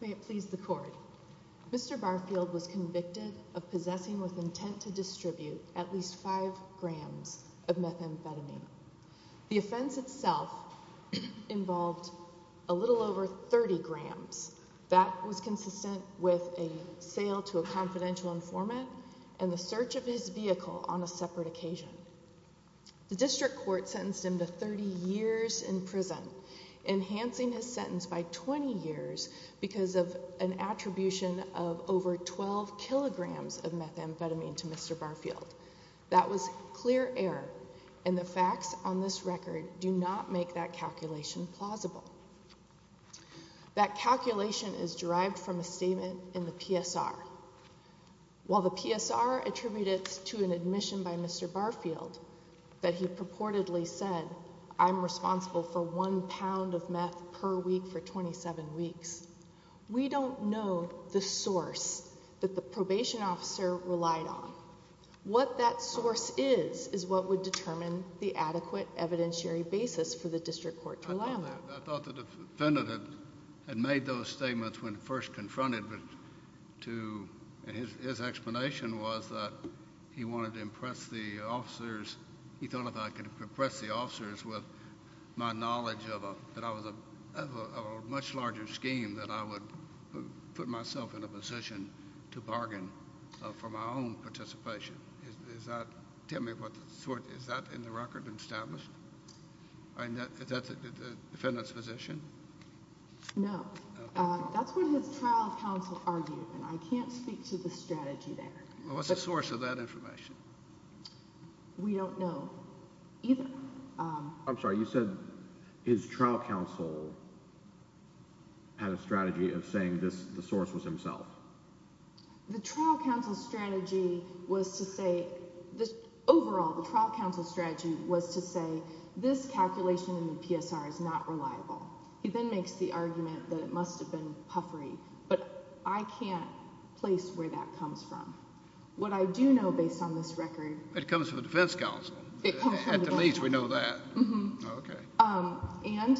May it please the Court, Mr. Barfield was convicted of possessing with intent to distribute at least 5 grams of methamphetamine. The offense itself involved a little over 30 grams. That was consistent with a sale to a confidential informant and the search of his vehicle on a separate occasion. The district court sentenced him to 30 years in prison, enhancing his sentence by 20 years because of an attribution of over 12 kilograms of methamphetamine to Mr. Barfield. That was clear error and the facts on this record do not make that calculation plausible. That calculation is derived from a statement in the PSR. While the PSR attributed it to an admission by Mr. Barfield that he purportedly said, I'm responsible for 1 pound of meth per week for 27 weeks, we don't know the source that the probation officer relied on. What that source is, is what would determine the adequate evidentiary basis for the district court to allow that. I thought the defendant had made those statements when first confronted, but his explanation was that he wanted to impress the officers. He thought if I could impress the officers with my knowledge that I was a much larger scheme, that I would put myself in a position to bargain for my own participation. Is that in the record established? Is that the defendant's position? No. That's what his trial counsel argued, and I can't speak to the strategy there. What's the source of that information? We don't know either. I'm sorry, you said his trial counsel had a strategy of saying the source was himself. The trial counsel's strategy was to say—overall, the trial counsel's strategy was to say this calculation in the PSR is not reliable. He then makes the argument that it must have been puffery, but I can't place where that comes from. What I do know based on this record— It comes from the defense counsel. It comes from the defense counsel. At the least we know that. And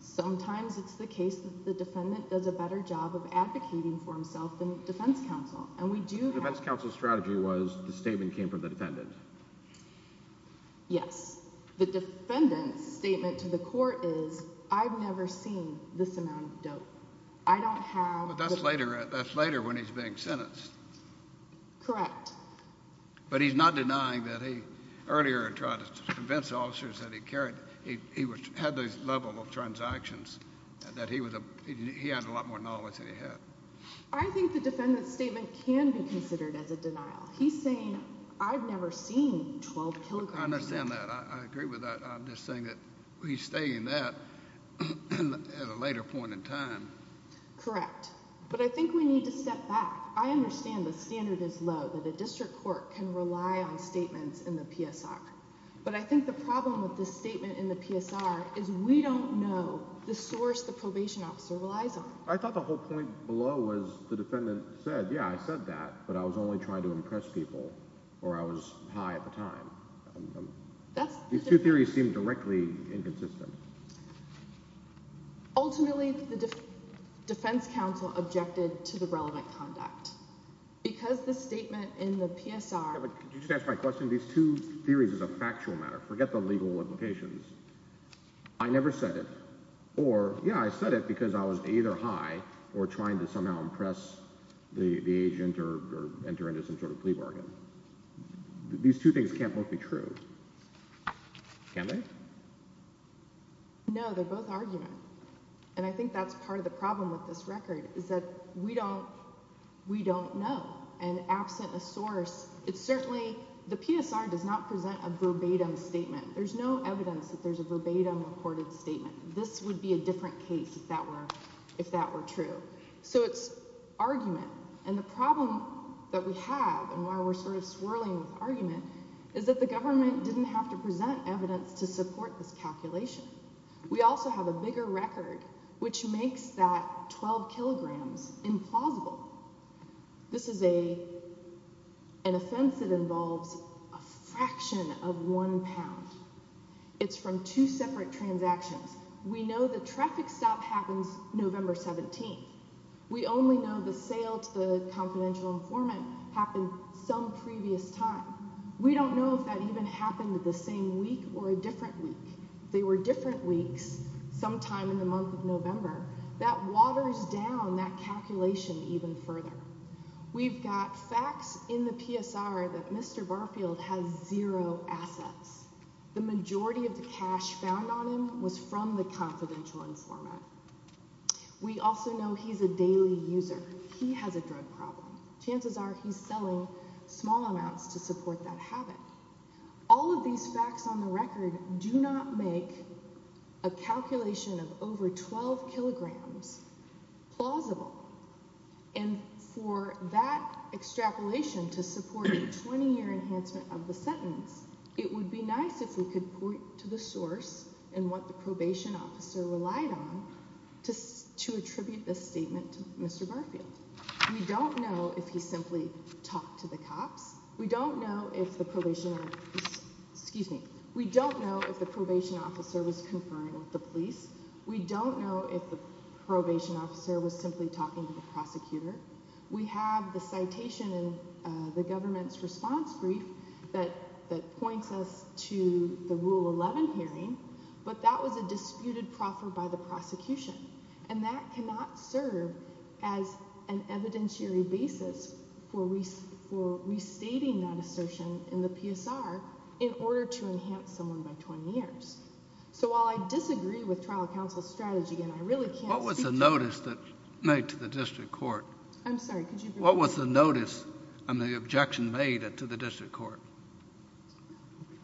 sometimes it's the case that the defendant does a better job of advocating for himself than the defense counsel, and we do have— The defense counsel's strategy was the statement came from the defendant. Yes. The defendant's statement to the court is I've never seen this amount of dope. I don't have— But that's later when he's being sentenced. Correct. But he's not denying that he earlier tried to convince the officers that he had this level of transactions, that he had a lot more knowledge than he had. I think the defendant's statement can be considered as a denial. He's saying I've never seen 12 kilograms of— I understand that. I agree with that. I'm just saying that he's stating that at a later point in time. Correct. But I think we need to step back. I understand the standard is low, that a district court can rely on statements in the PSR. But I think the problem with this statement in the PSR is we don't know the source the probation officer relies on. I thought the whole point below was the defendant said, yeah, I said that, but I was only trying to impress people, or I was high at the time. These two theories seem directly inconsistent. Ultimately, the defense counsel objected to the relevant conduct. Because the statement in the PSR— Could you just answer my question? These two theories is a factual matter. Forget the legal implications. I never said it. Or, yeah, I said it because I was either high or trying to somehow impress the agent or enter into some sort of plea bargain. These two things can't both be true. Can they? No, they're both argument. And I think that's part of the problem with this record, is that we don't know. And absent a source, it's certainly—the PSR does not present a verbatim statement. There's no evidence that there's a verbatim reported statement. This would be a different case if that were true. So it's argument. And the problem that we have, and why we're sort of swirling with argument, is that the government didn't have to present evidence to support this calculation. We also have a bigger record, which makes that 12 kilograms implausible. This is an offense that involves a fraction of one pound. It's from two separate transactions. We know the traffic stop happens November 17th. We only know the sale to the confidential informant happened some previous time. We don't know if that even happened the same week or a different week. They were different weeks, sometime in the month of November. That waters down that calculation even further. We've got facts in the PSR that Mr. Barfield has zero assets. The majority of the cash found on him was from the confidential informant. We also know he's a daily user. He has a drug problem. Chances are he's selling small amounts to support that habit. All of these facts on the record do not make a calculation of over 12 kilograms plausible. For that extrapolation to support a 20-year enhancement of the sentence, it would be nice if we could point to the source and what the probation officer relied on to attribute this statement to Mr. Barfield. We don't know if he simply talked to the cops. We don't know if the probation officer was conferring with the police. We don't know if the probation officer was simply talking to the prosecutor. We have the citation in the government's response brief that points us to the Rule 11 hearing, but that was a disputed proffer by the prosecution, and that cannot serve as an evidentiary basis for restating that assertion in the PSR in order to enhance someone by 20 years. So while I disagree with trial counsel's strategy and I really can't speak to— What was the notice made to the district court? I'm sorry, could you repeat that? What was the notice and the objection made to the district court?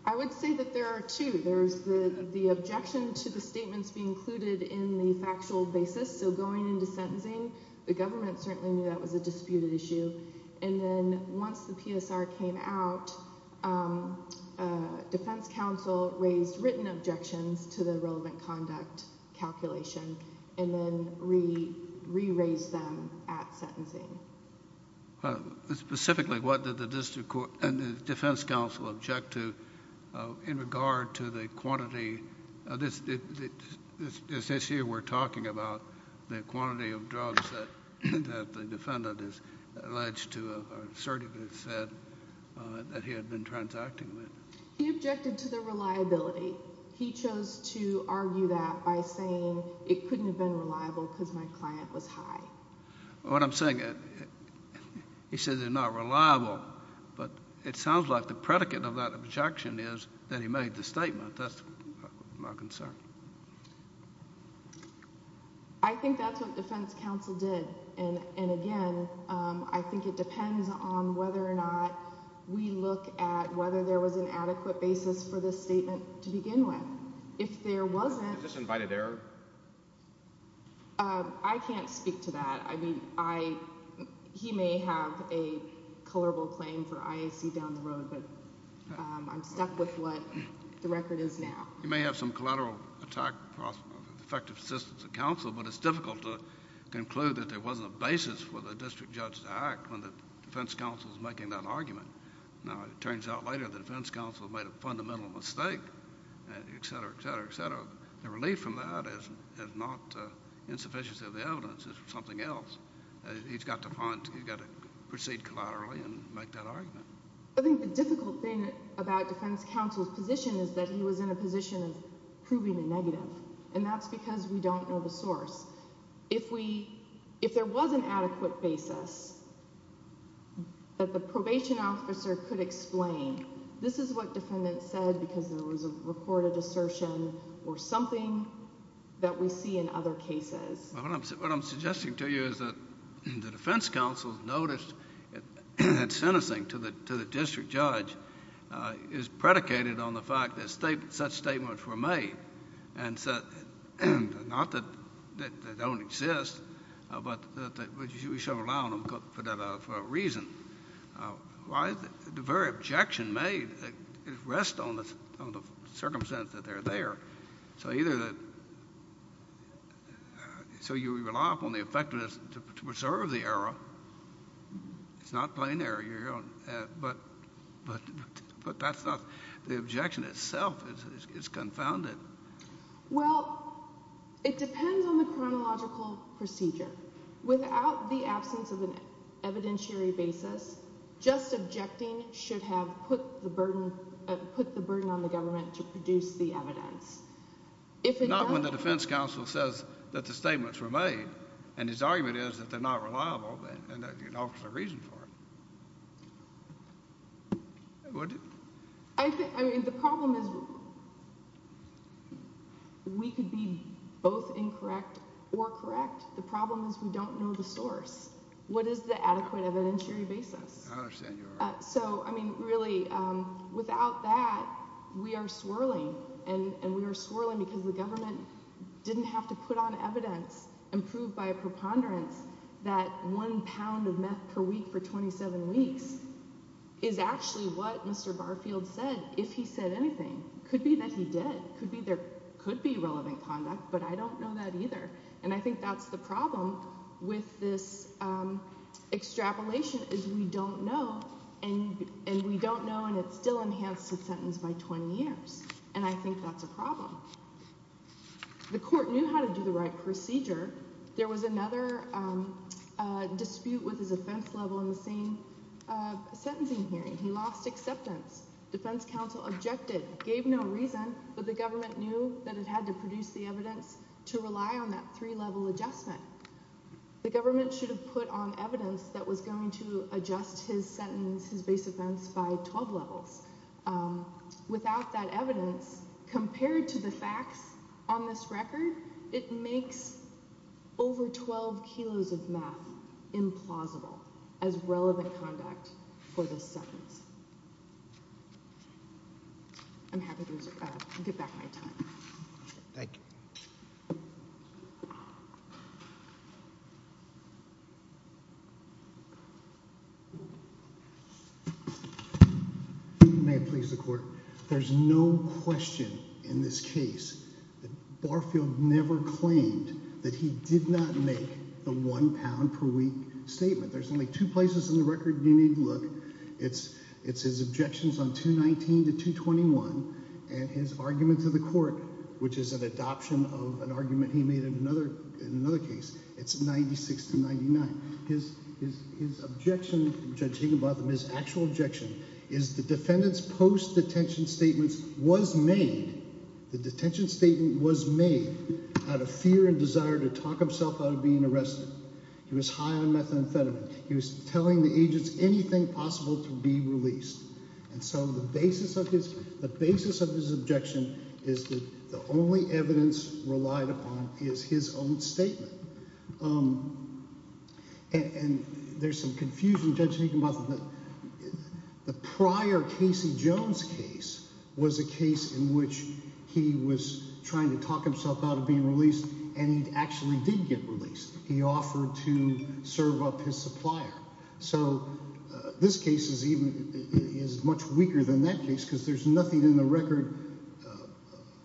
I would say that there are two. There's the objection to the statements being included in the factual basis, so going into sentencing. The government certainly knew that was a disputed issue. And then once the PSR came out, defense counsel raised written objections to the relevant conduct calculation and then re-raised them at sentencing. Specifically, what did the defense counsel object to in regard to the quantity? This issue we're talking about, the quantity of drugs that the defendant is alleged to have assertively said that he had been transacting with. He objected to the reliability. He chose to argue that by saying it couldn't have been reliable because my client was high. What I'm saying, he said they're not reliable, but it sounds like the predicate of that objection is that he made the statement. That's my concern. I think that's what defense counsel did. And again, I think it depends on whether or not we look at whether there was an adequate basis for this statement to begin with. If there wasn't— Is this invited error? I can't speak to that. He may have a colorable claim for IAC down the road, but I'm stuck with what the record is now. You may have some collateral attack, effective assistance of counsel, but it's difficult to conclude that there wasn't a basis for the district judge to act when the defense counsel is making that argument. Now, it turns out later the defense counsel made a fundamental mistake, et cetera, et cetera, et cetera. The relief from that is not insufficiency of the evidence. It's something else. He's got to find—he's got to proceed collaterally and make that argument. I think the difficult thing about defense counsel's position is that he was in a position of proving the negative, and that's because we don't know the source. If we—if there was an adequate basis that the probation officer could explain, this is what defendants said because there was a recorded assertion or something that we see in other cases. Well, what I'm suggesting to you is that the defense counsel noticed that sentencing to the district judge is predicated on the fact that such statements were made and said not that they don't exist, but that we should allow them for that reason. The very objection made rests on the circumstance that they're there. So either the—so you rely upon the effectiveness to preserve the error. It's not plain error, but that's not—the objection itself is confounded. Well, it depends on the chronological procedure. Without the absence of an evidentiary basis, just objecting should have put the burden on the government to produce the evidence. If it doesn't— It's not when the defense counsel says that the statements were made, and his argument is that they're not reliable and that he offers a reason for it. I think—I mean, the problem is we could be both incorrect or correct. The problem is we don't know the source. What is the adequate evidentiary basis? I understand your argument. So, I mean, really, without that, we are swirling, and we are swirling because the government didn't have to put on evidence and prove by a preponderance that one pound of meth per week for 27 weeks is actually what Mr. Barfield said, if he said anything. It could be that he did. It could be there could be relevant conduct, but I don't know that either. And I think that's the problem with this extrapolation is we don't know, and we don't know, and it's still enhanced the sentence by 20 years. And I think that's a problem. The court knew how to do the right procedure. There was another dispute with his offense level in the same sentencing hearing. He lost acceptance. Defense counsel objected, gave no reason, but the government knew that it had to produce the evidence to rely on that three-level adjustment. The government should have put on evidence that was going to adjust his sentence, his base offense, by 12 levels. Without that evidence, compared to the facts on this record, it makes over 12 kilos of meth implausible as relevant conduct for this sentence. I'm happy to get back my time. Thank you. There's no question in this case that Barfield never claimed that he did not make the one pound per week statement. There's only two places in the record you need to look. It's his objections on 219 to 221 and his argument to the court, which is an adoption of an argument he made in another case. It's 96 to 99. His objection, Judge Higginbotham, his actual objection is the defendant's post-detention statement was made, the detention statement was made, out of fear and desire to talk himself out of being arrested. He was high on methamphetamine. He was telling the agents anything possible to be released. And so the basis of his objection is that the only evidence relied upon is his own statement. And there's some confusion, Judge Higginbotham. The prior Casey Jones case was a case in which he was trying to talk himself out of being released, and he actually did get released. He offered to serve up his supplier. So this case is even – is much weaker than that case because there's nothing in the record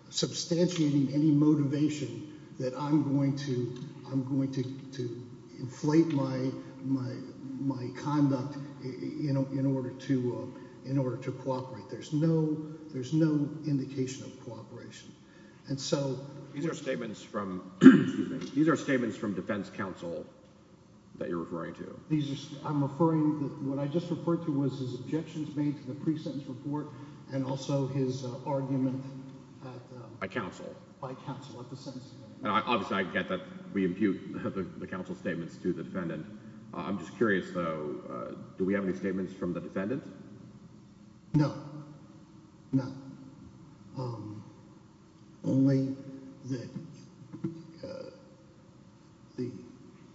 substantiating any motivation that I'm going to inflate my conduct in order to cooperate. There's no indication of cooperation. And so – These are statements from – excuse me. These are statements from defense counsel that you're referring to. I'm referring – what I just referred to was his objections made to the pre-sentence report and also his argument at the – By counsel. By counsel at the sentencing. Obviously, I get that we impute the counsel's statements to the defendant. I'm just curious, though. Do we have any statements from the defendant? No, none. Only the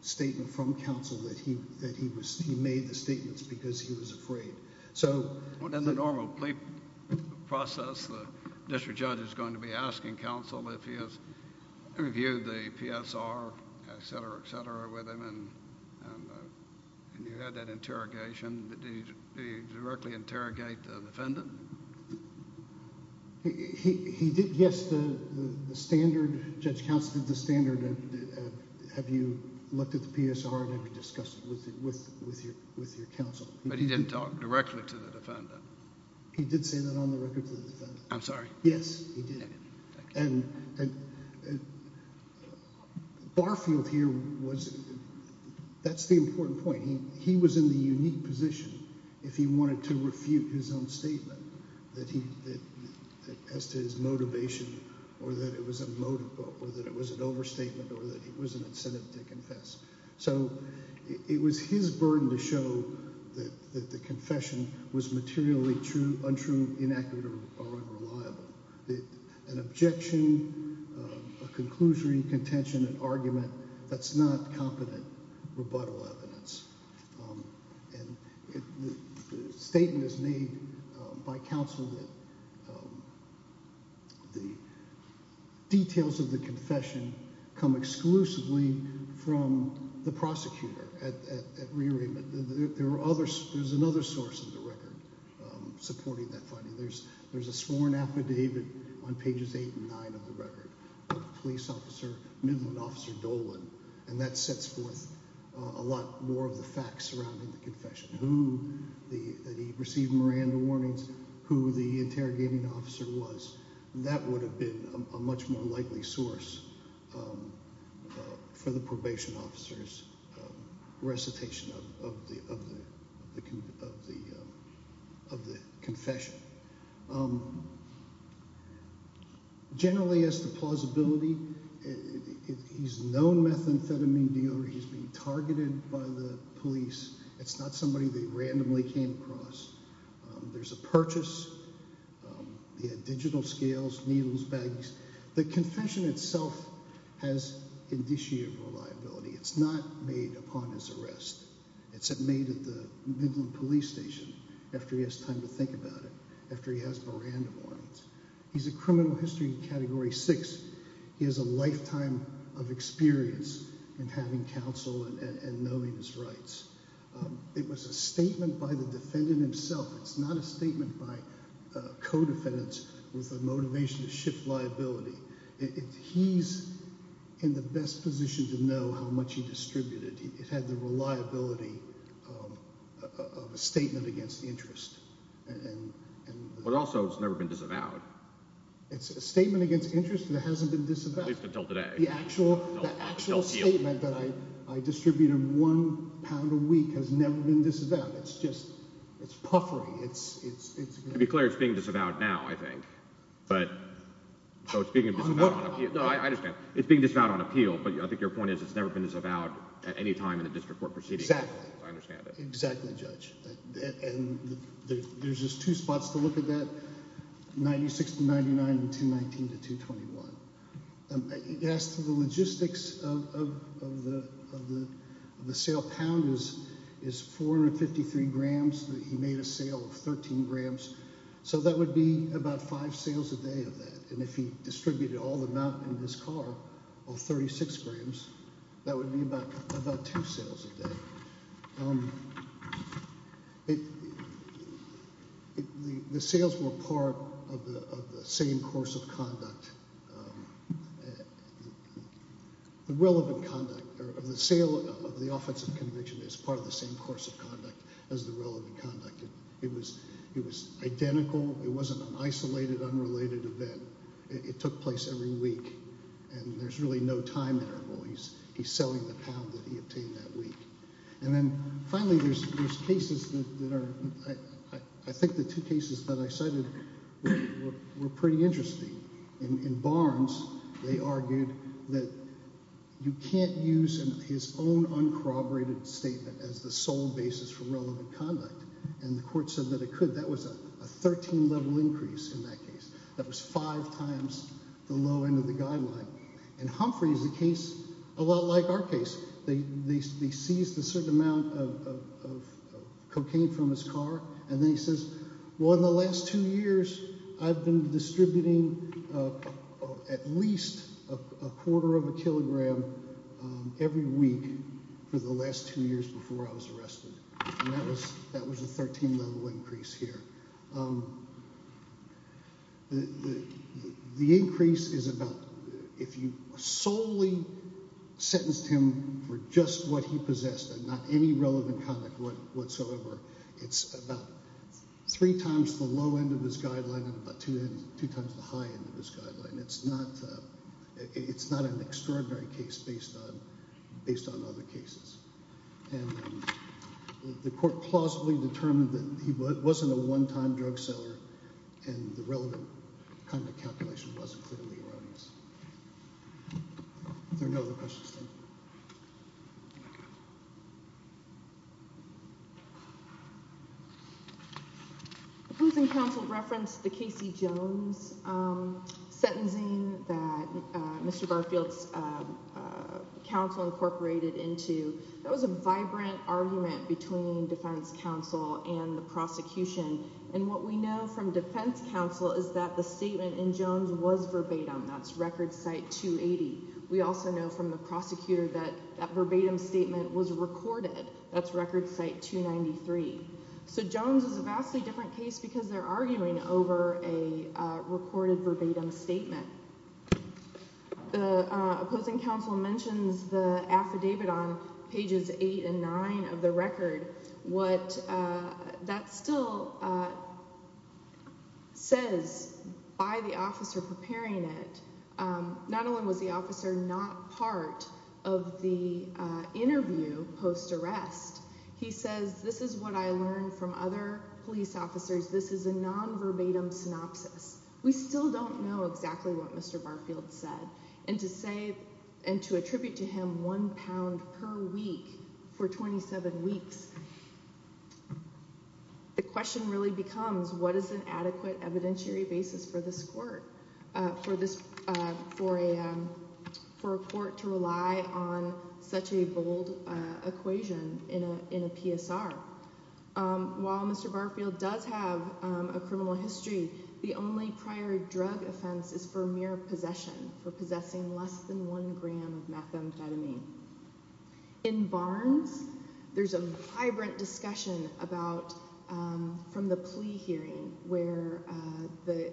statement from counsel that he was – he made the statements because he was afraid. So – In the normal plea process, the district judge is going to be asking counsel if he has reviewed the PSR, et cetera, et cetera, with him, and you had that interrogation. Did he directly interrogate the defendant? He did, yes. The standard – Judge Counsel did the standard of have you looked at the PSR and have you discussed it with your counsel. But he didn't talk directly to the defendant. He did say that on the record to the defendant. I'm sorry. Yes, he did. Thank you. And Barfield here was – that's the important point. He was in the unique position if he wanted to refute his own statement that he – as to his motivation or that it was a motive or that it was an overstatement or that it was an incentive to confess. So it was his burden to show that the confession was materially untrue, inaccurate, or unreliable. An objection, a conclusion, contention, an argument, that's not competent rebuttal evidence. And the statement is made by counsel that the details of the confession come exclusively from the prosecutor at rearrangement. There are other – there's another source of the record supporting that finding. There's a sworn affidavit on pages eight and nine of the record of the police officer, Midland Officer Dolan, and that sets forth a lot more of the facts surrounding the confession. That he received Miranda warnings, who the interrogating officer was. That would have been a much more likely source for the probation officer's recitation of the confession. Generally as to plausibility, he's a known methamphetamine dealer. He's been targeted by the police. It's not somebody that he randomly came across. There's a purchase. He had digital scales, needles, bags. The confession itself has indicia of reliability. It's not made upon his arrest. It's made at the Midland police station after he has time to think about it, after he has Miranda warnings. He's a criminal history category six. He has a lifetime of experience in having counsel and knowing his rights. It was a statement by the defendant himself. It's not a statement by co-defendants with a motivation to shift liability. He's in the best position to know how much he distributed. It had the reliability of a statement against interest. But also it's never been disavowed. It's a statement against interest that hasn't been disavowed. At least until today. The actual statement that I distribute him one pound a week has never been disavowed. It's puffering. To be clear, it's being disavowed now, I think. So it's being disavowed on appeal. No, I understand. It's being disavowed on appeal, but I think your point is it's never been disavowed at any time in a district court proceeding. Exactly. I understand that. Exactly, Judge. And there's just two spots to look at that, 96 to 99 and 219 to 221. As to the logistics of the sale, a pound is 453 grams. He made a sale of 13 grams. So that would be about five sales a day of that. And if he distributed all the mountain in his car, all 36 grams, that would be about two sales a day. The sales were part of the same course of conduct. The relevant conduct of the sale of the offensive convention is part of the same course of conduct as the relevant conduct. It was identical. It wasn't an isolated, unrelated event. It took place every week, and there's really no time interval. He's selling the pound that he obtained that week. And then finally there's cases that are – I think the two cases that I cited were pretty interesting. In Barnes, they argued that you can't use his own uncorroborated statement as the sole basis for relevant conduct. And the court said that it could. That was a 13-level increase in that case. That was five times the low end of the guideline. And Humphrey is a case a lot like our case. They seized a certain amount of cocaine from his car, and then he says, well, in the last two years, I've been distributing at least a quarter of a kilogram every week for the last two years before I was arrested. And that was a 13-level increase here. The increase is about if you solely sentenced him for just what he possessed and not any relevant conduct whatsoever, it's about three times the low end of his guideline and about two times the high end of his guideline. It's not an extraordinary case based on other cases. And the court plausibly determined that he wasn't a one-time drug seller and the relevant conduct calculation wasn't clearly erroneous. Are there no other questions? Opposing counsel referenced the Casey Jones sentencing that Mr. Garfield's counsel incorporated into. That was a vibrant argument between defense counsel and the prosecution. And what we know from defense counsel is that the statement in Jones was verbatim. That's record site 280. We also know from the prosecutor that that verbatim statement was recorded. That's record site 293. So Jones is a vastly different case because they're arguing over a recorded verbatim statement. The opposing counsel mentions the affidavit on pages eight and nine of the record. What that still says by the officer preparing it, not only was the officer not part of the interview post-arrest, he says, this is what I learned from other police officers. This is a nonverbatim synopsis. We still don't know exactly what Mr. Garfield said. And to attribute to him one pound per week for 27 weeks, the question really becomes, what is an adequate evidentiary basis for this court, for a court to rely on such a bold equation in a PSR? While Mr. Garfield does have a criminal history, the only prior drug offense is for mere possession, for possessing less than one gram of methamphetamine. In Barnes, there's a vibrant discussion from the plea hearing where the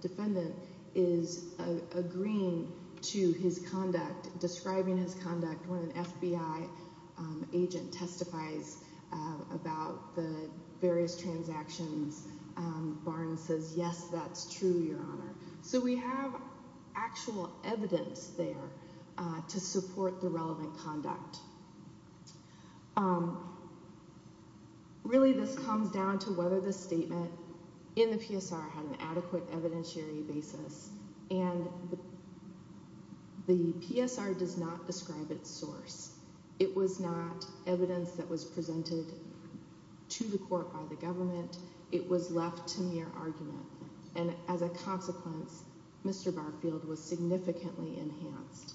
defendant is agreeing to his conduct, when an FBI agent testifies about the various transactions, Barnes says, yes, that's true, Your Honor. So we have actual evidence there to support the relevant conduct. Really, this comes down to whether the statement in the PSR had an adequate evidentiary basis. And the PSR does not describe its source. It was not evidence that was presented to the court by the government. It was left to mere argument. And as a consequence, Mr. Garfield was significantly enhanced.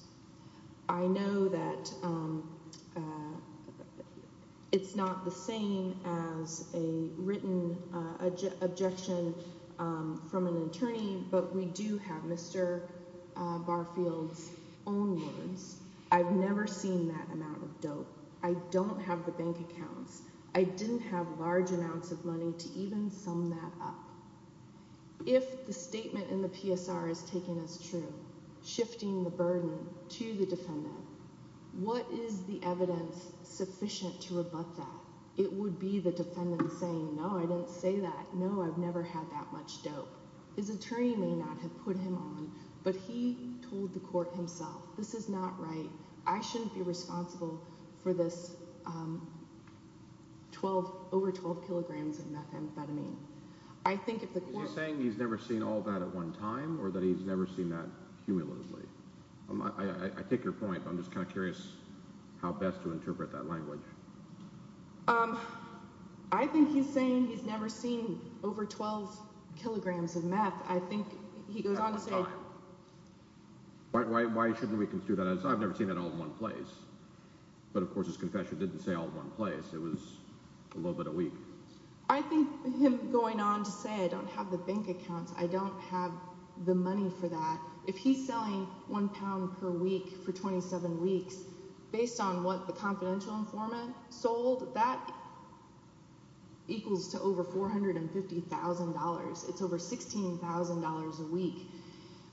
I know that it's not the same as a written objection from an attorney, but we do have Mr. Garfield's own words. I've never seen that amount of dope. I don't have the bank accounts. I didn't have large amounts of money to even sum that up. If the statement in the PSR is taken as true, shifting the burden to the defendant, what is the evidence sufficient to rebut that? It would be the defendant saying, no, I didn't say that. No, I've never had that much dope. His attorney may not have put him on, but he told the court himself, this is not right. I shouldn't be responsible for this over 12 kilograms of methamphetamine. I think if the court— Is he saying he's never seen all that at one time or that he's never seen that cumulatively? I take your point, but I'm just kind of curious how best to interpret that language. I think he's saying he's never seen over 12 kilograms of meth. I think he goes on to say— At one time. Why shouldn't we do that? I've never seen that all in one place. But, of course, his confession didn't say all in one place. It was a little bit a week. I think him going on to say I don't have the bank accounts, I don't have the money for that. If he's selling one pound per week for 27 weeks, based on what the confidential informant sold, that equals to over $450,000. It's over $16,000 a week.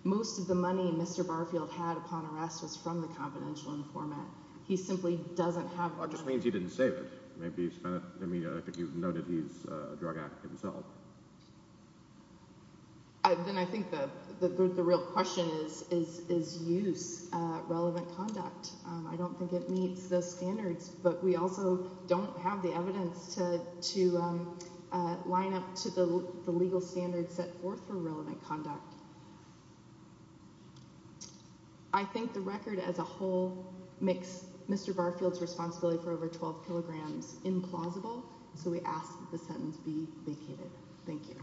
Most of the money Mr. Barfield had upon arrest was from the confidential informant. He simply doesn't have the money. That just means he didn't say that. I think you've noted he's a drug addict himself. Then I think the real question is use relevant conduct. I don't think it meets the standards, but we also don't have the evidence to line up to the legal standards set forth for relevant conduct. I think the record as a whole makes Mr. Barfield's responsibility for over 12 kilograms implausible, so we ask that the sentence be vacated. Thank you.